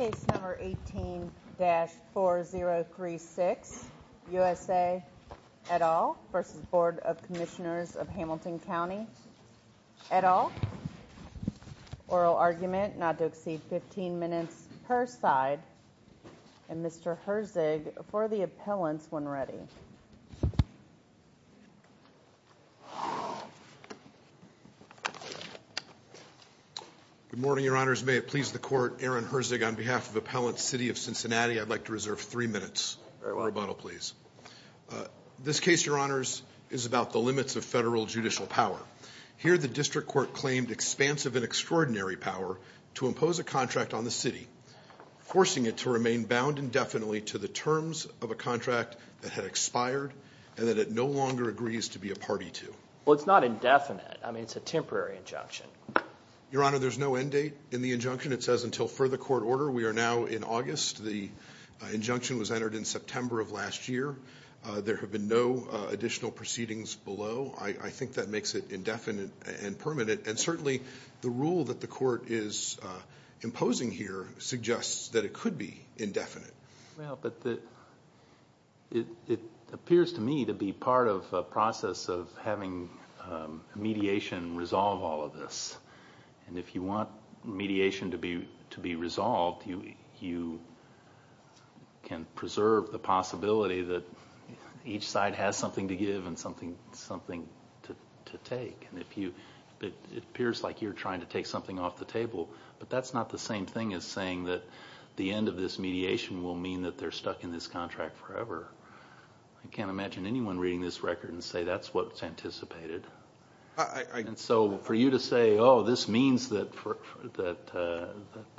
18-4036 U.S.A. et al. v. Board of Commissioners of Hamilton County et al. Oral argument not to exceed 15 minutes per side and Mr. Herzig for the record on behalf of appellant city of Cincinnati I'd like to reserve three minutes for rebuttal please. This case, your honors, is about the limits of federal judicial power. Here the district court claimed expansive and extraordinary power to impose a contract on the city, forcing it to remain bound indefinitely to the terms of a contract that had expired and that it no longer agrees to be a party to. Well, it's not indefinite. I mean, it's a temporary injunction. Your honor, there's no end date in the injunction. It says until further court order. We are now in August. The injunction was entered in September of last year. There have been no additional proceedings below. I think that makes it indefinite and permanent. And certainly the rule that the court is imposing here suggests that it could be indefinite. Well, but it appears to me to be part of a process of having mediation resolve all of this. And if you want mediation to be resolved, you can preserve the possibility that each side has something to give and something to take. And if you, it appears like you're trying to take something off the table, but that's not the same thing as saying that the end of this mediation will mean that they're stuck in this contract forever. I can't imagine anyone reading this record and say that's what's anticipated. And so for you to say, oh, this means that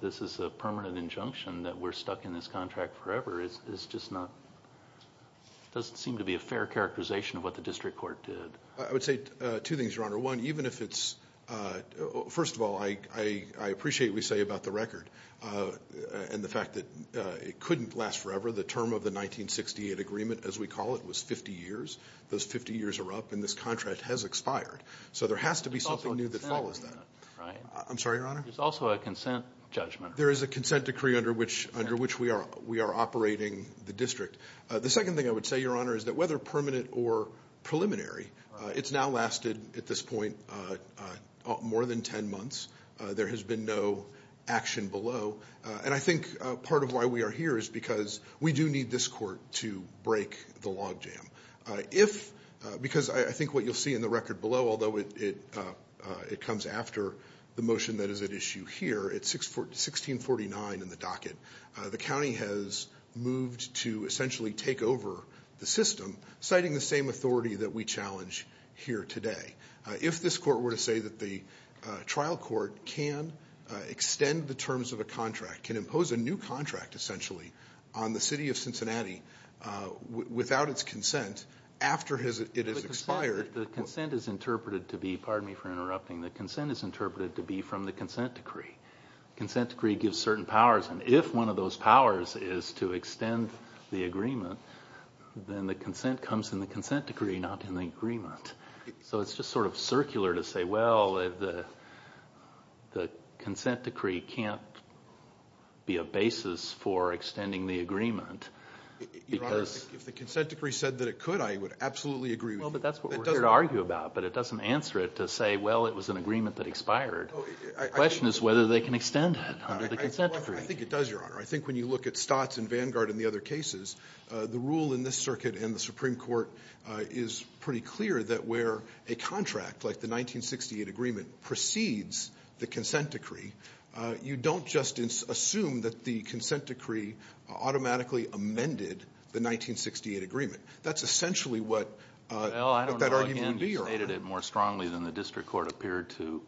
this is a permanent injunction, that we're stuck in this contract forever, is just not, doesn't seem to be a fair characterization of what the district court did. I would say two things, your honor. One, even if it's, first of all, I appreciate what you say about the record and the fact that it couldn't last forever. The term of the 1968 agreement, as we call it, was 50 years. Those 50 years are up and this contract has expired. So there has to be something new that follows that. I'm sorry, your honor? There's also a consent judgment. There is a consent decree under which we are operating the district. The second thing I would say, your honor, is that whether permanent or preliminary, it's now lasted, at this point, more than ten months. There has been no action below. And I think part of why we are here is because we do need this court to break the log jam. If, because I think what you'll see in the record below, although it comes after the motion that is at issue here, it's 1649 in the docket, the county has moved to essentially take over the system, citing the same authority that we challenge here today. If this court were to say that the trial court can extend the terms of a contract, can impose a new contract, essentially, on the city of Cincinnati without its consent after it has expired. The consent is interpreted to be, pardon me for interrupting, the consent is interpreted to be from the consent decree. Consent decree gives certain powers, and if one of those powers is to extend the agreement, then the consent comes in the consent decree, not in the agreement. So it's just sort of circular to say, well, the consent decree can't be a basis for extending the agreement. Your honor, if the consent decree said that it could, I would absolutely agree with you. Well, but that's what we're here to argue about. But it doesn't answer it to say, well, it was an agreement that expired. The question is whether they can extend it under the consent decree. I think it does, your honor. I think when you look at Stott's and Vanguard and the other cases, the rule in this circuit and the Supreme Court is pretty clear that where a contract, like the 1968 agreement, precedes the consent decree, you don't just assume that the consent decree automatically amended the 1968 agreement. That's essentially what that argument would be, your honor. Well, I don't know if he stated it more strongly than the district court appeared to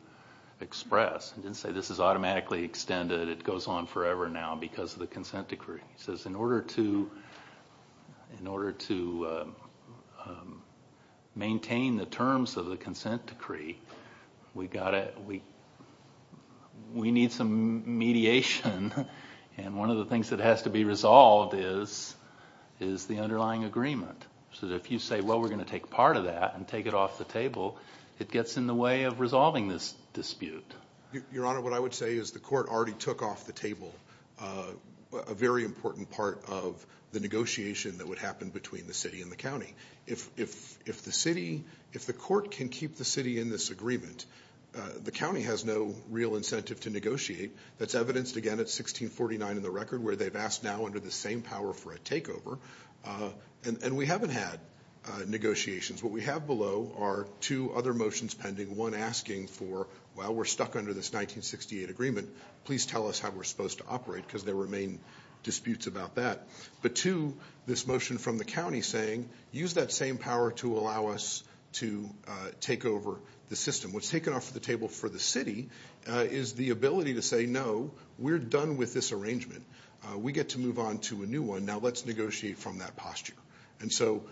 express. He didn't say this is automatically extended, it goes on forever now because of the consent decree. He says in order to maintain the terms of the consent decree, we need some mediation. And one of the things that has to be resolved is the underlying agreement. So if you say, well, we're going to take part of that and take it off the table, it gets in the way of resolving this dispute. Your honor, what I would say is the court already took off the table a very important part of the negotiation that would happen between the city and the county. If the city, if the court can keep the city in this agreement, the county has no real incentive to negotiate. That's evidenced, again, at 1649 in the record, where they've asked now under the same power for a takeover, and we haven't had negotiations. What we have below are two other motions pending, one asking for, well, we're stuck under this 1968 agreement. Please tell us how we're supposed to operate, because there remain disputes about that. But two, this motion from the county saying, use that same power to allow us to take over the system. What's taken off the table for the city is the ability to say, no, we're done with this arrangement. We get to move on to a new one, now let's negotiate from that posture. And so,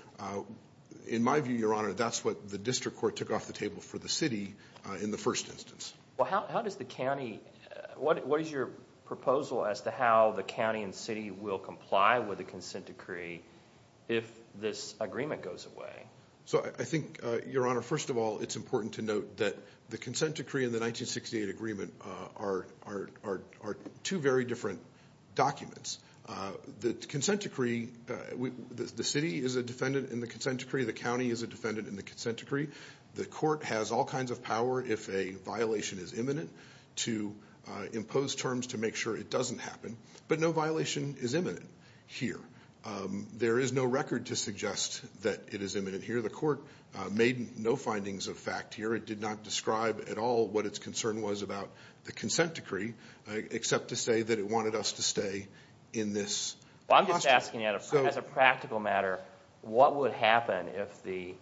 in my view, your honor, that's what the district court took off the table for the city in the first instance. Well, how does the county, what is your proposal as to how the county and city will comply with the consent decree if this agreement goes away? So I think, your honor, first of all, it's important to note that the consent decree and the 1968 agreement are two very different documents. The consent decree, the city is a defendant in the consent decree, the county is a defendant in the consent decree. The court has all kinds of power if a violation is imminent to impose terms to make sure it doesn't happen. But no violation is imminent here. There is no record to suggest that it is imminent here. The court made no findings of fact here. It did not describe at all what its concern was about the consent decree, except to say that it wanted us to stay in this posture. Well, I'm just asking as a practical matter, what would happen if the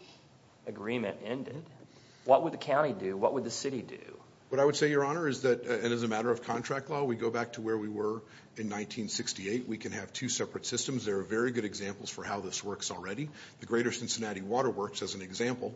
agreement ended? What would the county do? What would the city do? What I would say, your honor, is that, and as a matter of contract law, we go back to where we were in 1968. We can have two separate systems. There are very good examples for how this works already. The greater Cincinnati water works, as an example,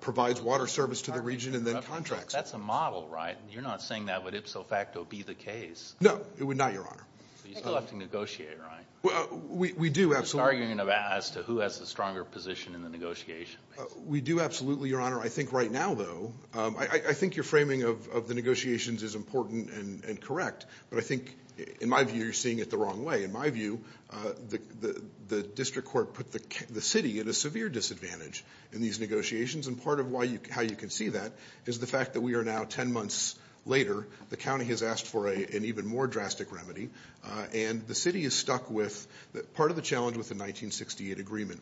provides water service to the region and then contracts. That's a model, right? You're not saying that would ipso facto be the case. No, it would not, your honor. You still have to negotiate, right? Well, we do, absolutely. It's an argument as to who has the stronger position in the negotiation. We do, absolutely, your honor. I think right now, though, I think your framing of the negotiations is important and correct. But I think, in my view, you're seeing it the wrong way. In my view, the district court put the city at a severe disadvantage in these negotiations. And part of how you can see that is the fact that we are now ten months later. The county has asked for an even more drastic remedy. And the city is stuck with, part of the challenge with the 1968 agreement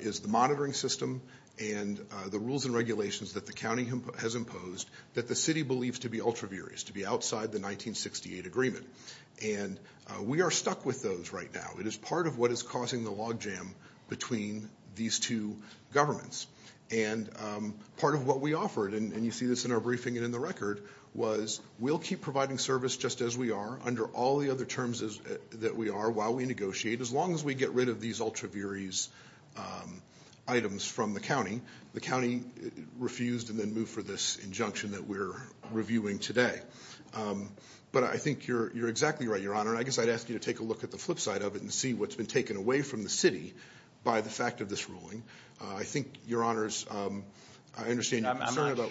is the monitoring system and the rules and regulations that the county has imposed that the city believes to be ultra-viris, to be outside the 1968 agreement. And we are stuck with those right now. It is part of what is causing the log jam between these two governments. And part of what we offered, and you see this in our briefing and in the record, was we'll keep providing service just as we are under all the other terms that we are while we negotiate. As long as we get rid of these ultra-viris items from the county, the county refused and then moved for this injunction that we're reviewing today. But I think you're exactly right, your honor. I guess I'd ask you to take a look at the flip side of it and see what's been taken away from the city by the fact of this ruling. I think, your honors, I understand you're concerned about- But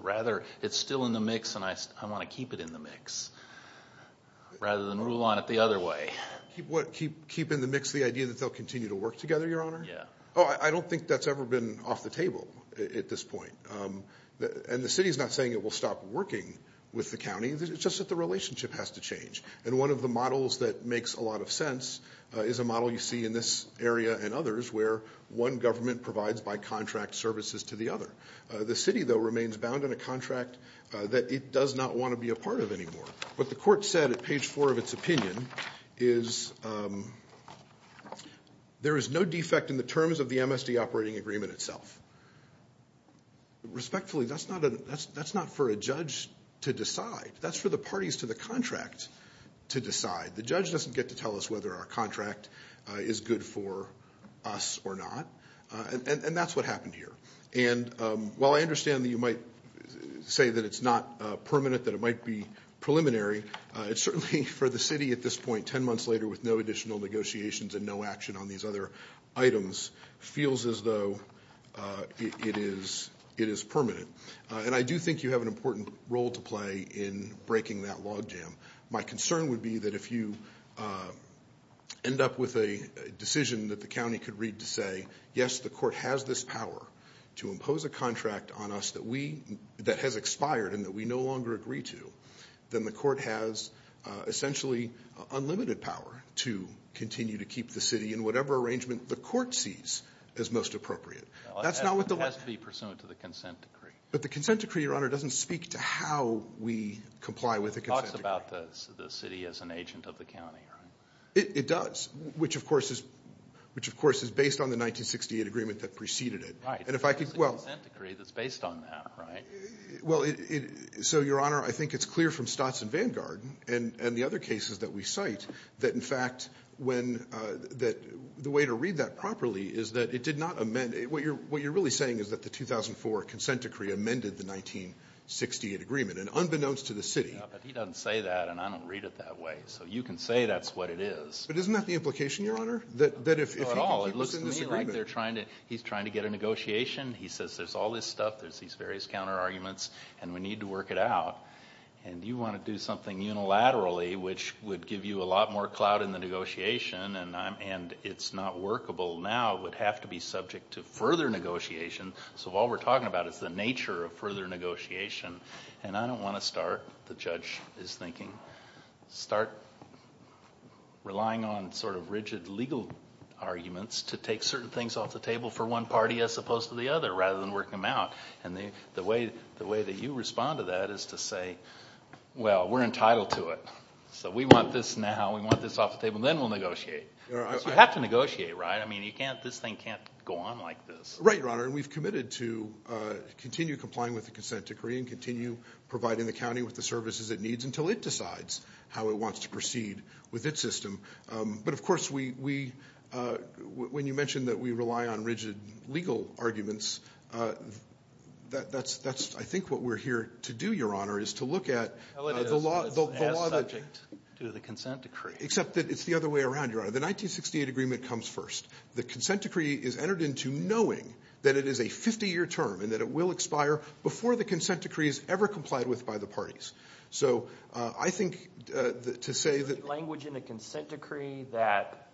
rather, it's still in the mix and I want to keep it in the mix, rather than rule on it the other way. Keep what? Keep in the mix the idea that they'll continue to work together, your honor? Yeah. I don't think that's ever been off the table at this point. And the city's not saying it will stop working with the county, it's just that the relationship has to change. And one of the models that makes a lot of sense is a model you see in this area and others where one government provides by contract services to the other. The city, though, remains bound in a contract that it does not want to be a part of anymore. What the court said at page four of its opinion is, there is no defect in the terms of the MSD operating agreement itself. Respectfully, that's not for a judge to decide, that's for the parties to the contract to decide. The judge doesn't get to tell us whether our contract is good for us or not, and that's what happened here. And while I understand that you might say that it's not permanent, that it might be preliminary, it's certainly for the city at this point, ten months later with no additional negotiations and no action on these other items, feels as though it is permanent. And I do think you have an important role to play in breaking that log jam. My concern would be that if you end up with a decision that the county could read to say, yes, the court has this power to impose a contract on us that has expired and that we no longer agree to, then the court has essentially unlimited power to continue to keep the city in whatever arrangement the court sees as most appropriate. That's not what the- It has to be pursuant to the consent decree. But the consent decree, your honor, doesn't speak to how we comply with the consent decree. It talks about the city as an agent of the county, right? It does, which of course is based on the 1968 agreement that preceded it. Right. And if I could- It's the consent decree that's based on that, right? Well, so your honor, I think it's clear from Stotz and Vanguard and the other cases that we cite that in fact, the way to read that properly is that it did not amend- what you're really saying is that the 2004 consent decree amended the 1968 agreement. And unbeknownst to the city- Yeah, but he doesn't say that and I don't read it that way. So you can say that's what it is. But isn't that the implication, your honor? That if he can keep us in disagreement- Not at all. It looks to me like they're trying to- he's trying to get a negotiation. He says there's all this stuff. There's these various counter arguments and we need to work it out. And you want to do something unilaterally which would give you a lot more clout in the negotiation and it's not workable now. It would have to be subject to further negotiation. So all we're talking about is the nature of further negotiation. And I don't want to start. The judge is thinking start relying on sort of rigid legal arguments to take certain things off the table for one party as opposed to the other rather than working them out. And the way that you respond to that is to say, well, we're entitled to it. So we want this now. We want this off the table. Then we'll negotiate. Because you have to negotiate, right? I mean, you can't- this thing can't go on like this. Right, your honor. And we've committed to continue complying with the consent decree and continue providing the county with the services it needs until it decides how it wants to proceed with its system. But of course, we- when you mentioned that we rely on rigid legal arguments, that's I think what we're here to do, your honor, is to look at the law- As subject to the consent decree. Except that it's the other way around, your honor. The 1968 agreement comes first. The consent decree is entered into knowing that it is a 50-year term and that it will expire before the consent decree is ever complied with by the parties. So I think to say that- Language in the consent decree that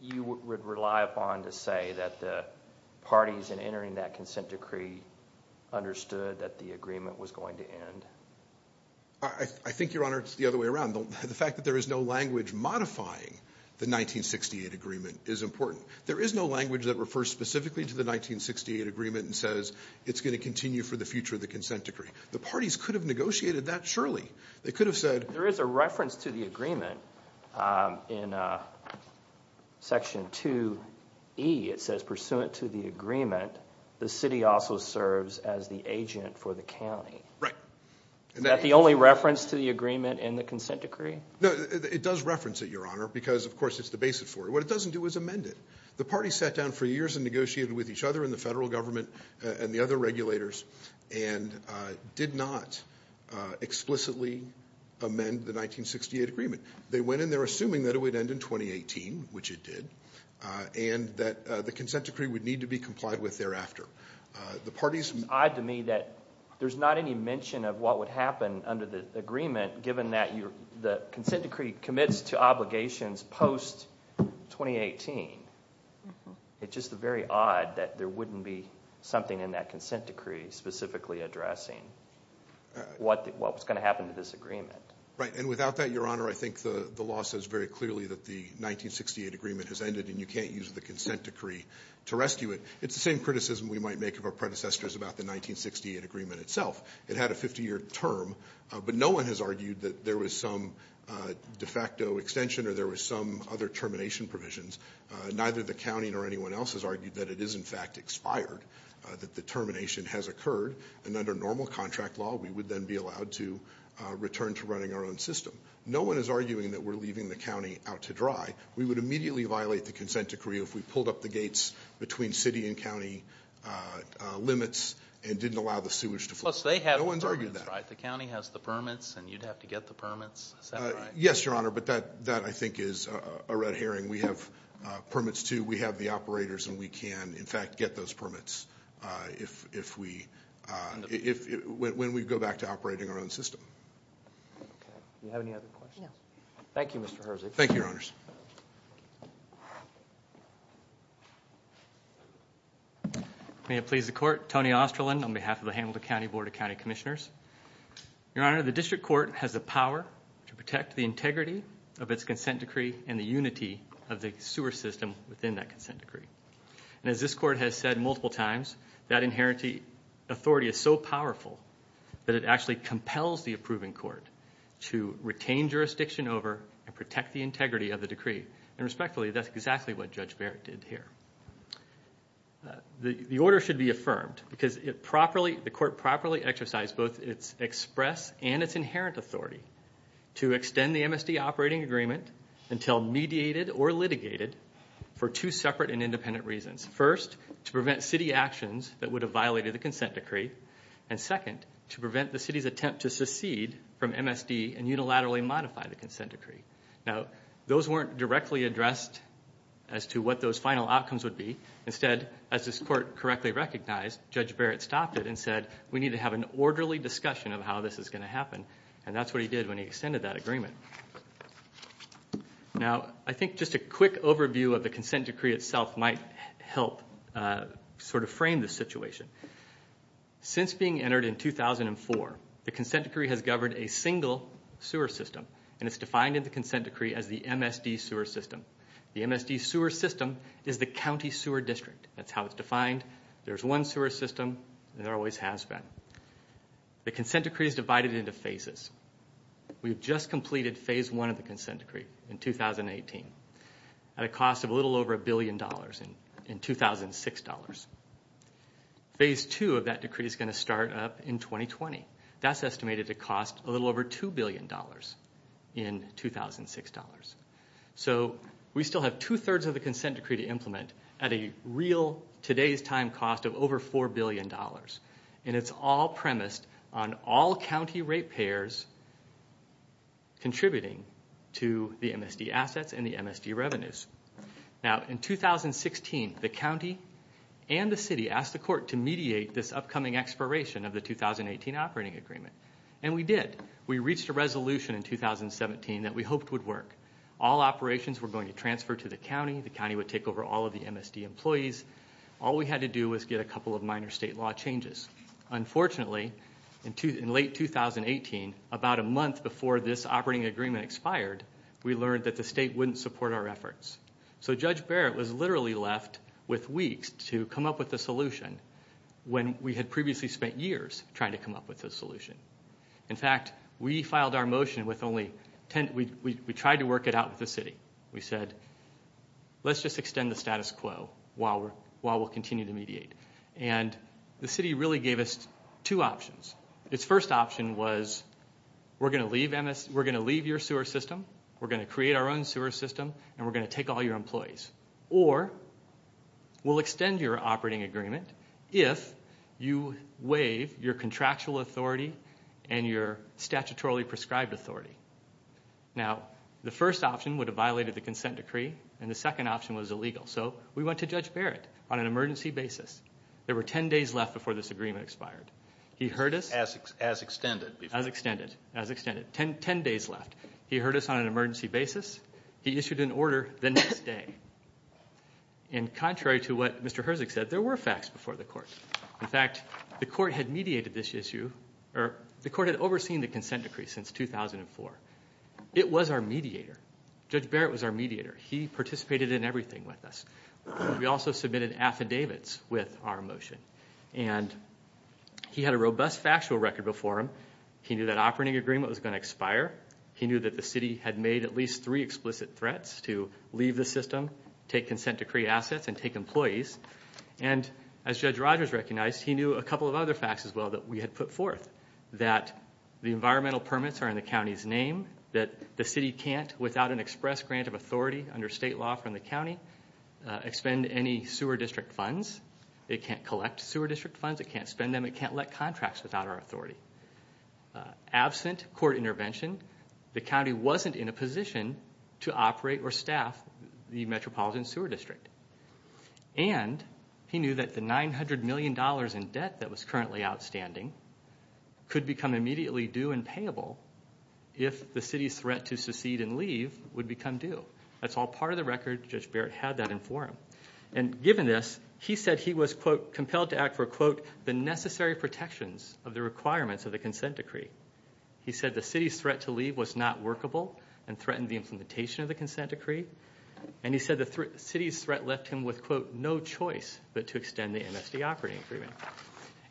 you would rely upon to say that the parties in entering that consent decree understood that the agreement was going to end? I think, your honor, it's the other way around. The fact that there is no language modifying the 1968 agreement is important. There is no language that refers specifically to the 1968 agreement and says it's going to continue for the future of the consent decree. The parties could have negotiated that surely. They could have said- There is a reference to the agreement in section 2E. It says, pursuant to the agreement, the city also serves as the agent for the county. Right. Is that the only reference to the agreement in the consent decree? No, it does reference it, your honor, because of course it's the basis for it. What it doesn't do is amend it. The parties sat down for years and negotiated with each other and the federal government and the other regulators and did not explicitly amend the 1968 agreement. They went in there assuming that it would end in 2018, which it did, and that the consent decree would need to be complied with thereafter. The parties- It's odd to me that there's not any mention of what would happen under the agreement, given that the consent decree commits to obligations post-2018. It's just very odd that there wouldn't be something in that consent decree specifically addressing what was going to happen to this agreement. Right. And without that, your honor, I think the law says very clearly that the 1968 agreement has ended and you can't use the consent decree to rescue it. It's the same criticism we might make of our predecessors about the 1968 agreement itself. It had a 50-year term, but no one has argued that there was some de facto extension or there was some other termination provisions. Neither the county nor anyone else has argued that it is, in fact, expired, that the termination has occurred, and under normal contract law, we would then be allowed to return to running our own system. No one is arguing that we're leaving the county out to dry. We would immediately violate the consent decree if we pulled up the gates between city and county limits and didn't allow the sewage to flow. Plus, they have the permits, right? The county has the permits and you'd have to get the permits. Is that right? Yes, your honor, but that, I think, is a red herring. We have permits, too. We have the operators and we can, in fact, get those permits if we, when we go back to operating our own system. Do you have any other questions? No. Thank you, Mr. Herzig. Thank you, your honors. May it please the court. Tony Osterlin on behalf of the Hamilton County Board of County Commissioners. Your honor, the district court has the power to protect the integrity of its consent decree and the unity of the sewer system within that consent decree. And as this court has said multiple times, that inherent authority is so powerful that it actually compels the approving court to retain jurisdiction over and protect the integrity of the decree. And respectfully, that's exactly what Judge Barrett did here. The order should be affirmed because it properly, the court properly exercised both its express and its inherent authority to extend the MSD operating agreement until mediated or litigated for two separate and independent reasons. First, to prevent city actions that would have violated the consent decree. And second, to prevent the city's attempt to secede from MSD and unilaterally modify the consent decree. Now, those weren't directly addressed as to what those final outcomes would be. Instead, as this court correctly recognized, Judge Barrett stopped it and said, we need to have an orderly discussion of how this is going to happen. And that's what he did when he extended that agreement. Now, I think just a quick overview of the consent decree itself might help sort of frame the situation. Since being entered in 2004, the consent decree has governed a single sewer system. And it's defined in the consent decree as the MSD sewer system. The MSD sewer system is the county sewer district. That's how it's defined. There's one sewer system, and there always has been. The consent decree is divided into phases. We've just completed phase one of the consent decree in 2018 at a cost of a little over $1 billion in 2006 dollars. Phase two of that decree is going to start up in 2020. That's estimated to cost a little over $2 billion in 2006 dollars. So we still have 2 thirds of the consent decree to implement at a real today's time cost of over $4 billion. And it's all premised on all county rate payers contributing to the MSD assets and the MSD revenues. Now, in 2016, the county and the city asked the court to mediate this upcoming expiration of the 2018 operating agreement. And we did. We reached a resolution in 2017 that we hoped would work. All operations were going to transfer to the county. The county would take over all of the MSD employees. All we had to do was get a couple of minor state law changes. Unfortunately, in late 2018, about a month before this operating agreement expired, we learned that the state wouldn't support our efforts. So Judge Barrett was literally left with weeks to come up with a solution when we had previously spent years trying to come up with a solution. In fact, we filed our motion with only 10. We tried to work it out with the city. We said, let's just extend the status quo while we'll continue to mediate. And the city really gave us two options. Its first option was, we're going to leave your sewer system, we're going to create our own sewer system, and we're going to take all your employees. Or we'll extend your operating agreement if you waive your contractual authority and your statutorily prescribed authority. Now, the first option would have violated the consent decree, and the second option was illegal. So we went to Judge Barrett on an emergency basis. There were 10 days left before this agreement expired. He heard us. As extended. As extended. As extended. 10 days left. He heard us on an emergency basis. He issued an order the next day. And contrary to what Mr. Herzog said, there were facts before the court. In fact, the court had mediated this issue, or the court had overseen the consent decree since 2004. It was our mediator. Judge Barrett was our mediator. He participated in everything with us. We also submitted affidavits with our motion. And he had a robust factual record before him. He knew that operating agreement was going to expire. He knew that the city had made at least three explicit threats to leave the system, take consent decree assets, and take employees. And as Judge Rogers recognized, he knew a couple of other facts as well that we had put forth. That the environmental permits are in the county's name. That the city can't, without an express grant of authority under state law from the county, expend any sewer district funds. It can't collect sewer district funds. It can't spend them. It can't let contracts without our authority. Absent court intervention, the county wasn't in a position to operate or staff the metropolitan sewer district. And he knew that the $900 million in debt that was currently outstanding could become immediately due and payable if the city's threat to secede and leave would become due. That's all part of the record. Judge Barrett had that in forum. And given this, he said he was, quote, compelled to act for, quote, the necessary protections of the requirements of the consent decree. He said the city's threat to leave was not workable and threatened the implementation of the consent decree. And he said the city's threat left him with, quote, no choice but to extend the MSD operating agreement.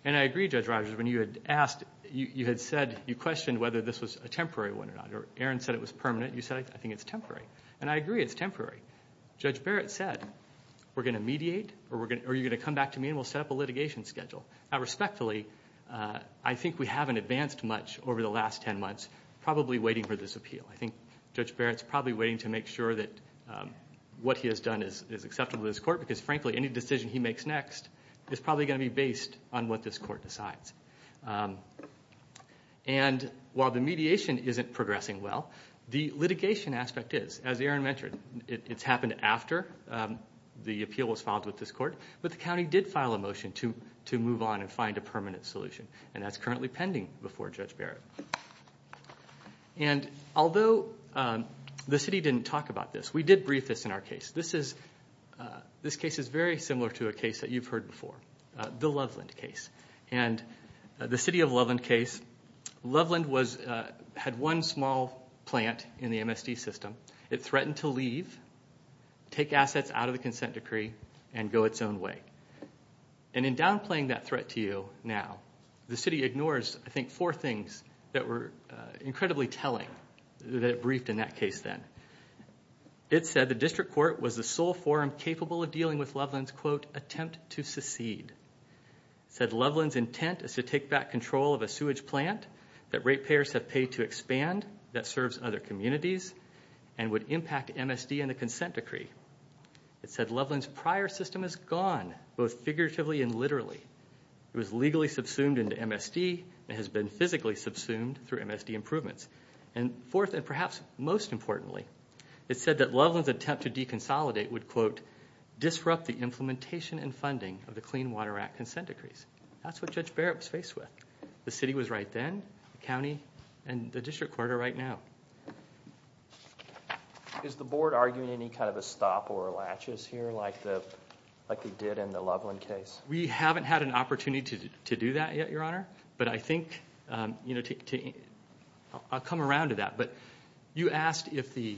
And I agree, Judge Rogers, when you had asked, you had said, you questioned whether this was a temporary one or not. Or Aaron said it was permanent. You said, I think it's temporary. And I agree, it's temporary. Judge Barrett said, we're going to mediate? Or are you going to come back to me and we'll set up a litigation schedule? Now respectfully, I think we haven't advanced much over the last 10 months, probably waiting for this appeal. I think Judge Barrett's probably waiting to make sure that what he has done is acceptable to this court. Because frankly, any decision he makes next is probably going to be based on what this court decides. And while the mediation isn't progressing well, the litigation aspect is. As Aaron mentioned, it's happened after the appeal was filed with this court. But the county did file a motion to move on and find a permanent solution. And that's currently pending before Judge Barrett. And although the city didn't talk about this, we did brief this in our case. This case is very similar to a case that you've heard before, the Loveland case. And the city of Loveland case, Loveland had one small plant in the MSD system. It threatened to leave, take assets out of the consent decree, and go its own way. And in downplaying that threat to you now, the city ignores, I think, four things that were incredibly telling, that it briefed in that case then. It said the district court was the sole forum capable of dealing with Loveland's, quote, attempt to secede. It said Loveland's intent is to take back control of a sewage plant that rate payers have paid to expand, that serves other communities, and would impact MSD and the consent decree. It said Loveland's prior system is gone, both figuratively and literally. It was legally subsumed into MSD, and has been physically subsumed through MSD improvements. And fourth, and perhaps most importantly, it said that Loveland's attempt to deconsolidate would, quote, disrupt the implementation and funding of the Clean Water Act consent decrees. That's what Judge Barrett was faced with. The city was right then, the county, and the district court are right now. Is the board arguing any kind of a stop or a latches here like they did in the Loveland case? We haven't had an opportunity to do that yet, your honor. But I think, I'll come around to that, but you asked if the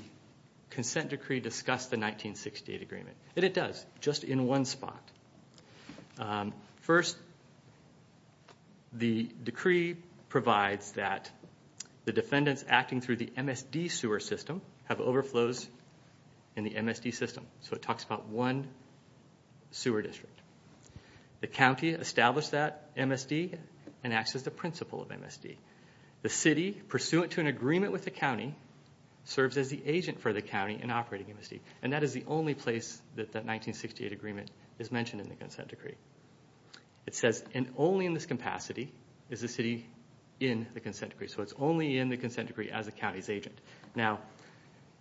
consent decree discussed the 1968 agreement. And it does, just in one spot. First, the decree provides that the defendants acting through the MSD sewer system have overflows in the MSD system. So it talks about one sewer district. The county established that MSD and acts as the principal of MSD. The city, pursuant to an agreement with the county, serves as the agent for the county in operating MSD. And that is the only place that that 1968 agreement is mentioned in the consent decree. It says, and only in this capacity is the city in the consent decree. So it's only in the consent decree as the county's agent. Now,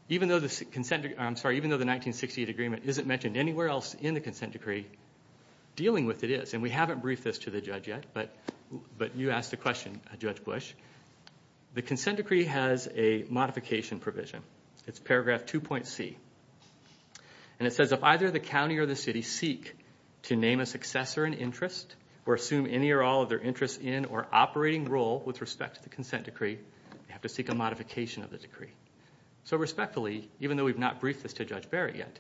even though the 1968 agreement isn't mentioned anywhere else in the consent decree, dealing with it is, and we haven't briefed this to the judge yet, but you asked a question, Judge Bush, the consent decree has a modification provision. It's paragraph 2.c, and it says if either the county or the city seek to name a successor in interest, or assume any or all of their interest in or operating role with respect to the consent decree, they have to seek a modification of the decree. So respectfully, even though we've not briefed this to Judge Barrett yet,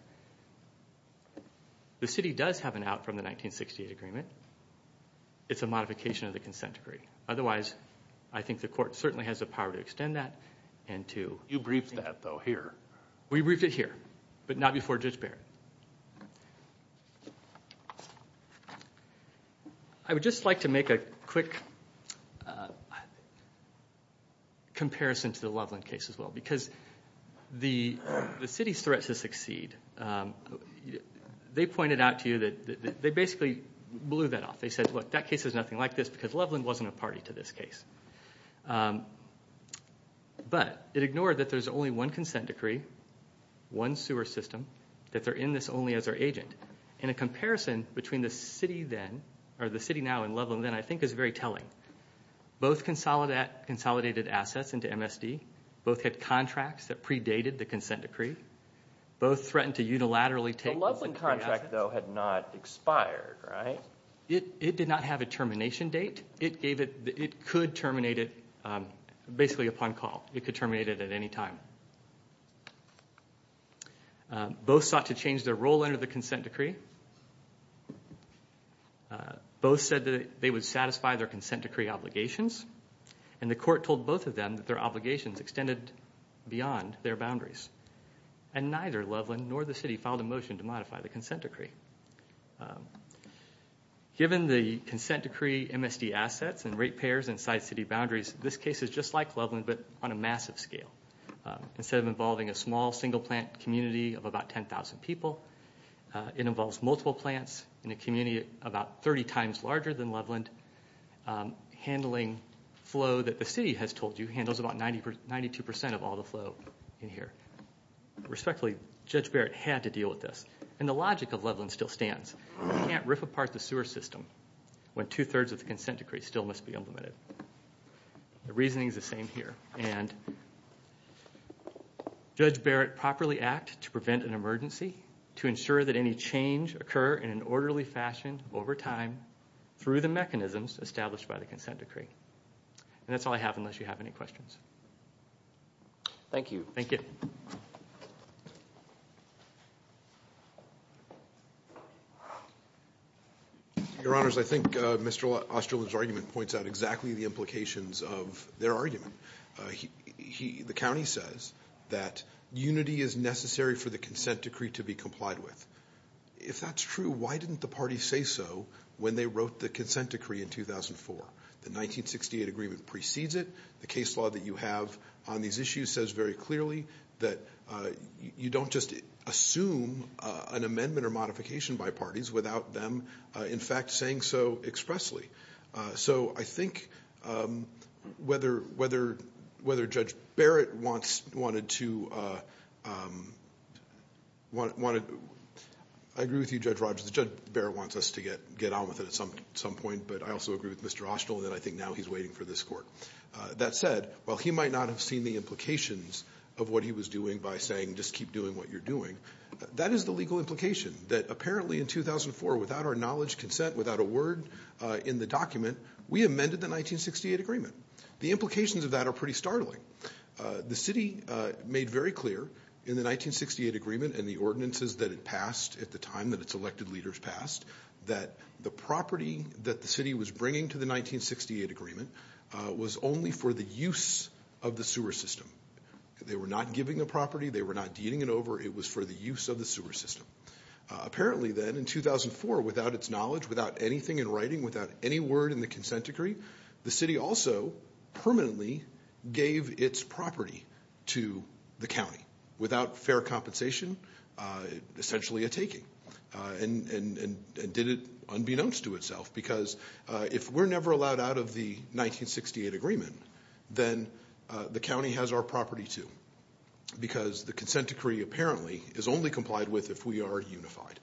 the city does have an out from the 1968 agreement. It's a modification of the consent decree. Otherwise, I think the court certainly has the power to extend that and to- You briefed that, though, here. We briefed it here, but not before Judge Barrett. Okay. I would just like to make a quick comparison to the Loveland case as well. Because the city's threat to succeed, they pointed out to you that they basically blew that off. They said, look, that case is nothing like this because Loveland wasn't a party to this case. But it ignored that there's only one consent decree, one sewer system, that they're in this only as their agent. And a comparison between the city then, or the city now and Loveland then, I think is very telling. Both consolidated assets into MSD. Both had contracts that predated the consent decree. Both threatened to unilaterally take- The Loveland contract, though, had not expired, right? It did not have a termination date. It gave it, it could terminate it basically upon call. It could terminate it at any time. Both sought to change their role under the consent decree. Both said that they would satisfy their consent decree obligations. And the court told both of them that their obligations extended beyond their boundaries. And neither Loveland nor the city filed a motion to modify the consent decree. Given the consent decree MSD assets and rate payers inside city boundaries, this case is just like Loveland but on a massive scale. Instead of involving a small single plant community of about 10,000 people, it involves multiple plants in a community about 30 times larger than Loveland. Handling flow that the city has told you handles about 92% of all the flow in here. Respectfully, Judge Barrett had to deal with this. And the logic of Loveland still stands. You can't rip apart the sewer system when two-thirds of the consent decree still must be implemented. The reasoning is the same here. And Judge Barrett properly act to prevent an emergency, to ensure that any change occur in an orderly fashion over time through the mechanisms established by the consent decree. And that's all I have unless you have any questions. Thank you. Thank you. Your honors, I think Mr. Osterlund's argument points out exactly the implications of their argument. The county says that unity is necessary for the consent decree to be complied with. If that's true, why didn't the party say so when they wrote the consent decree in 2004? The 1968 agreement precedes it. The case law that you have on these issues says very clearly that you don't just assume an amendment or modification by parties without them in fact saying so expressly. So I think whether Judge Barrett wants, wanted to, I agree with you Judge Rogers, Judge Barrett wants us to get on with it at some point, but I also agree with Mr. Osterlund that I think now he's waiting for this court. That said, while he might not have seen the implications of what he was doing by saying just keep doing what you're doing. That is the legal implication that apparently in 2004 without our knowledge, consent, without a word in the document, we amended the 1968 agreement. The implications of that are pretty startling. The city made very clear in the 1968 agreement and the ordinances that it passed at the time that its elected leaders passed, that the property that the city was bringing to the 1968 agreement was only for the use of the sewer system. They were not giving the property. They were not dealing it over. It was for the use of the sewer system. Apparently then in 2004, without its knowledge, without anything in writing, without any word in the consent decree, the city also permanently gave its property to the county. Without fair compensation, essentially a taking, and did it unbeknownst to itself, because if we're never allowed out of the 1968 agreement, then the county has our property too, because the consent decree apparently is only complied with if we are unified.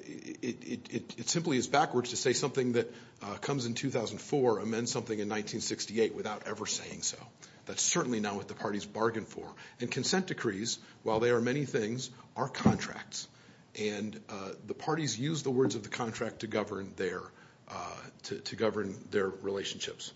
It simply is backwards to say something that comes in 2004 amends something in 1968 without ever saying so. That's certainly not what the parties bargained for. And consent decrees, while they are many things, are contracts. And the parties use the words of the contract to govern their relationships.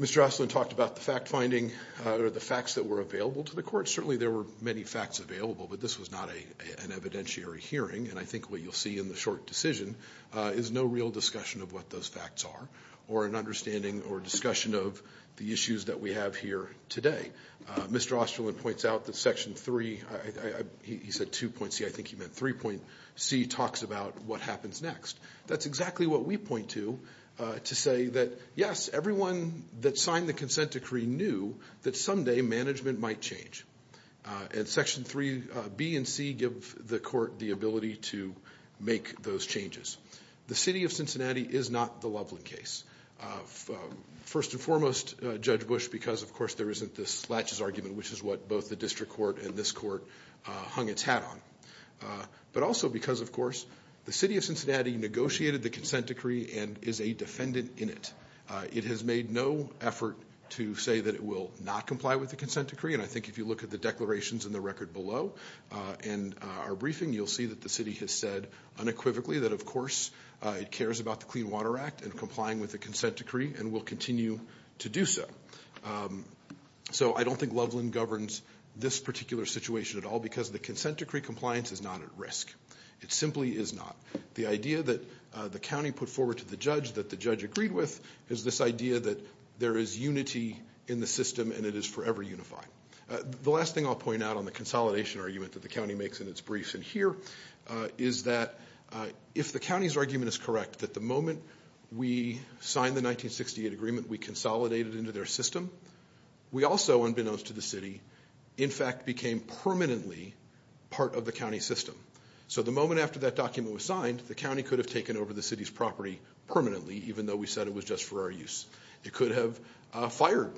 Mr. Osterlin talked about the fact finding, or the facts that were available to the court. Certainly there were many facts available, but this was not an evidentiary hearing. And I think what you'll see in the short decision is no real discussion of what those facts are, or an understanding or discussion of the issues that we have here today. Mr. Osterlin points out that section three, he said 2.C, I think he meant 3.C, talks about what happens next. That's exactly what we point to, to say that yes, everyone that signed the consent decree knew that someday management might change. And section 3B and C give the court the ability to make those changes. The city of Cincinnati is not the Loveland case. First and foremost, Judge Bush, because of course there isn't this latches argument, which is what both the district court and this court hung its hat on. But also because, of course, the city of Cincinnati negotiated the consent decree and is a defendant in it. It has made no effort to say that it will not comply with the consent decree. And I think if you look at the declarations in the record below and our briefing, you'll see that the city has said unequivocally that of course it cares about the Clean Water Act and complying with the consent decree and will continue to do so. So I don't think Loveland governs this particular situation at all because the consent decree compliance is not at risk. It simply is not. The idea that the county put forward to the judge that the judge agreed with is this idea that there is unity in the system and it is forever unified. The last thing I'll point out on the consolidation argument that the county makes in its briefs in here is that if the county's argument is correct that the moment we signed the 1968 agreement, we consolidated into their system. We also, unbeknownst to the city, in fact became permanently part of the county system. So the moment after that document was signed, the county could have taken over the city's property permanently, even though we said it was just for our use. It could have fired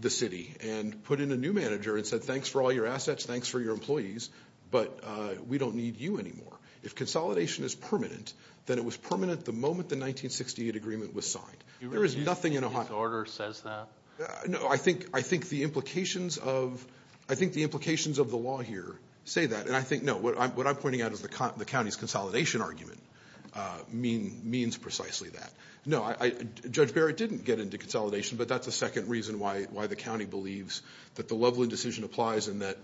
the city and put in a new manager and said, thanks for all your assets, thanks for your employees. But we don't need you anymore. If consolidation is permanent, then it was permanent the moment the 1968 agreement was signed. There is nothing in Ohio- The order says that? No, I think the implications of the law here say that. And I think, no, what I'm pointing out is the county's consolidation argument means precisely that. No, Judge Barrett didn't get into consolidation, but that's the second reason why the county believes that the Loveland decision applies and that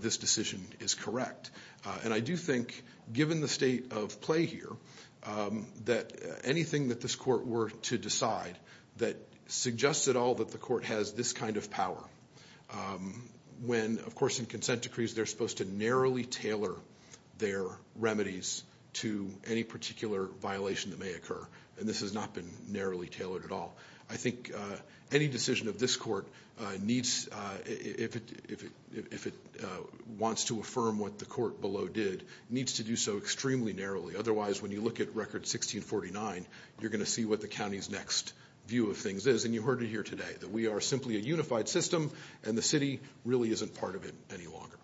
this decision is correct. And I do think, given the state of play here, that anything that this court were to decide that suggests at all that the court has this kind of power. When, of course, in consent decrees, they're supposed to narrowly tailor their remedies to any particular violation that may occur. And this has not been narrowly tailored at all. I think any decision of this court needs, if it wants to affirm what the court below did, needs to do so extremely narrowly. Otherwise, when you look at record 1649, you're going to see what the county's next view of things is. And you heard it here today, that we are simply a unified system, and the city really isn't part of it any longer.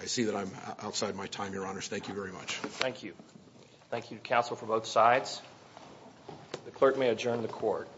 I see that I'm outside my time, your honors. Thank you very much. Thank you. Thank you, counsel, from both sides. The clerk may adjourn the court.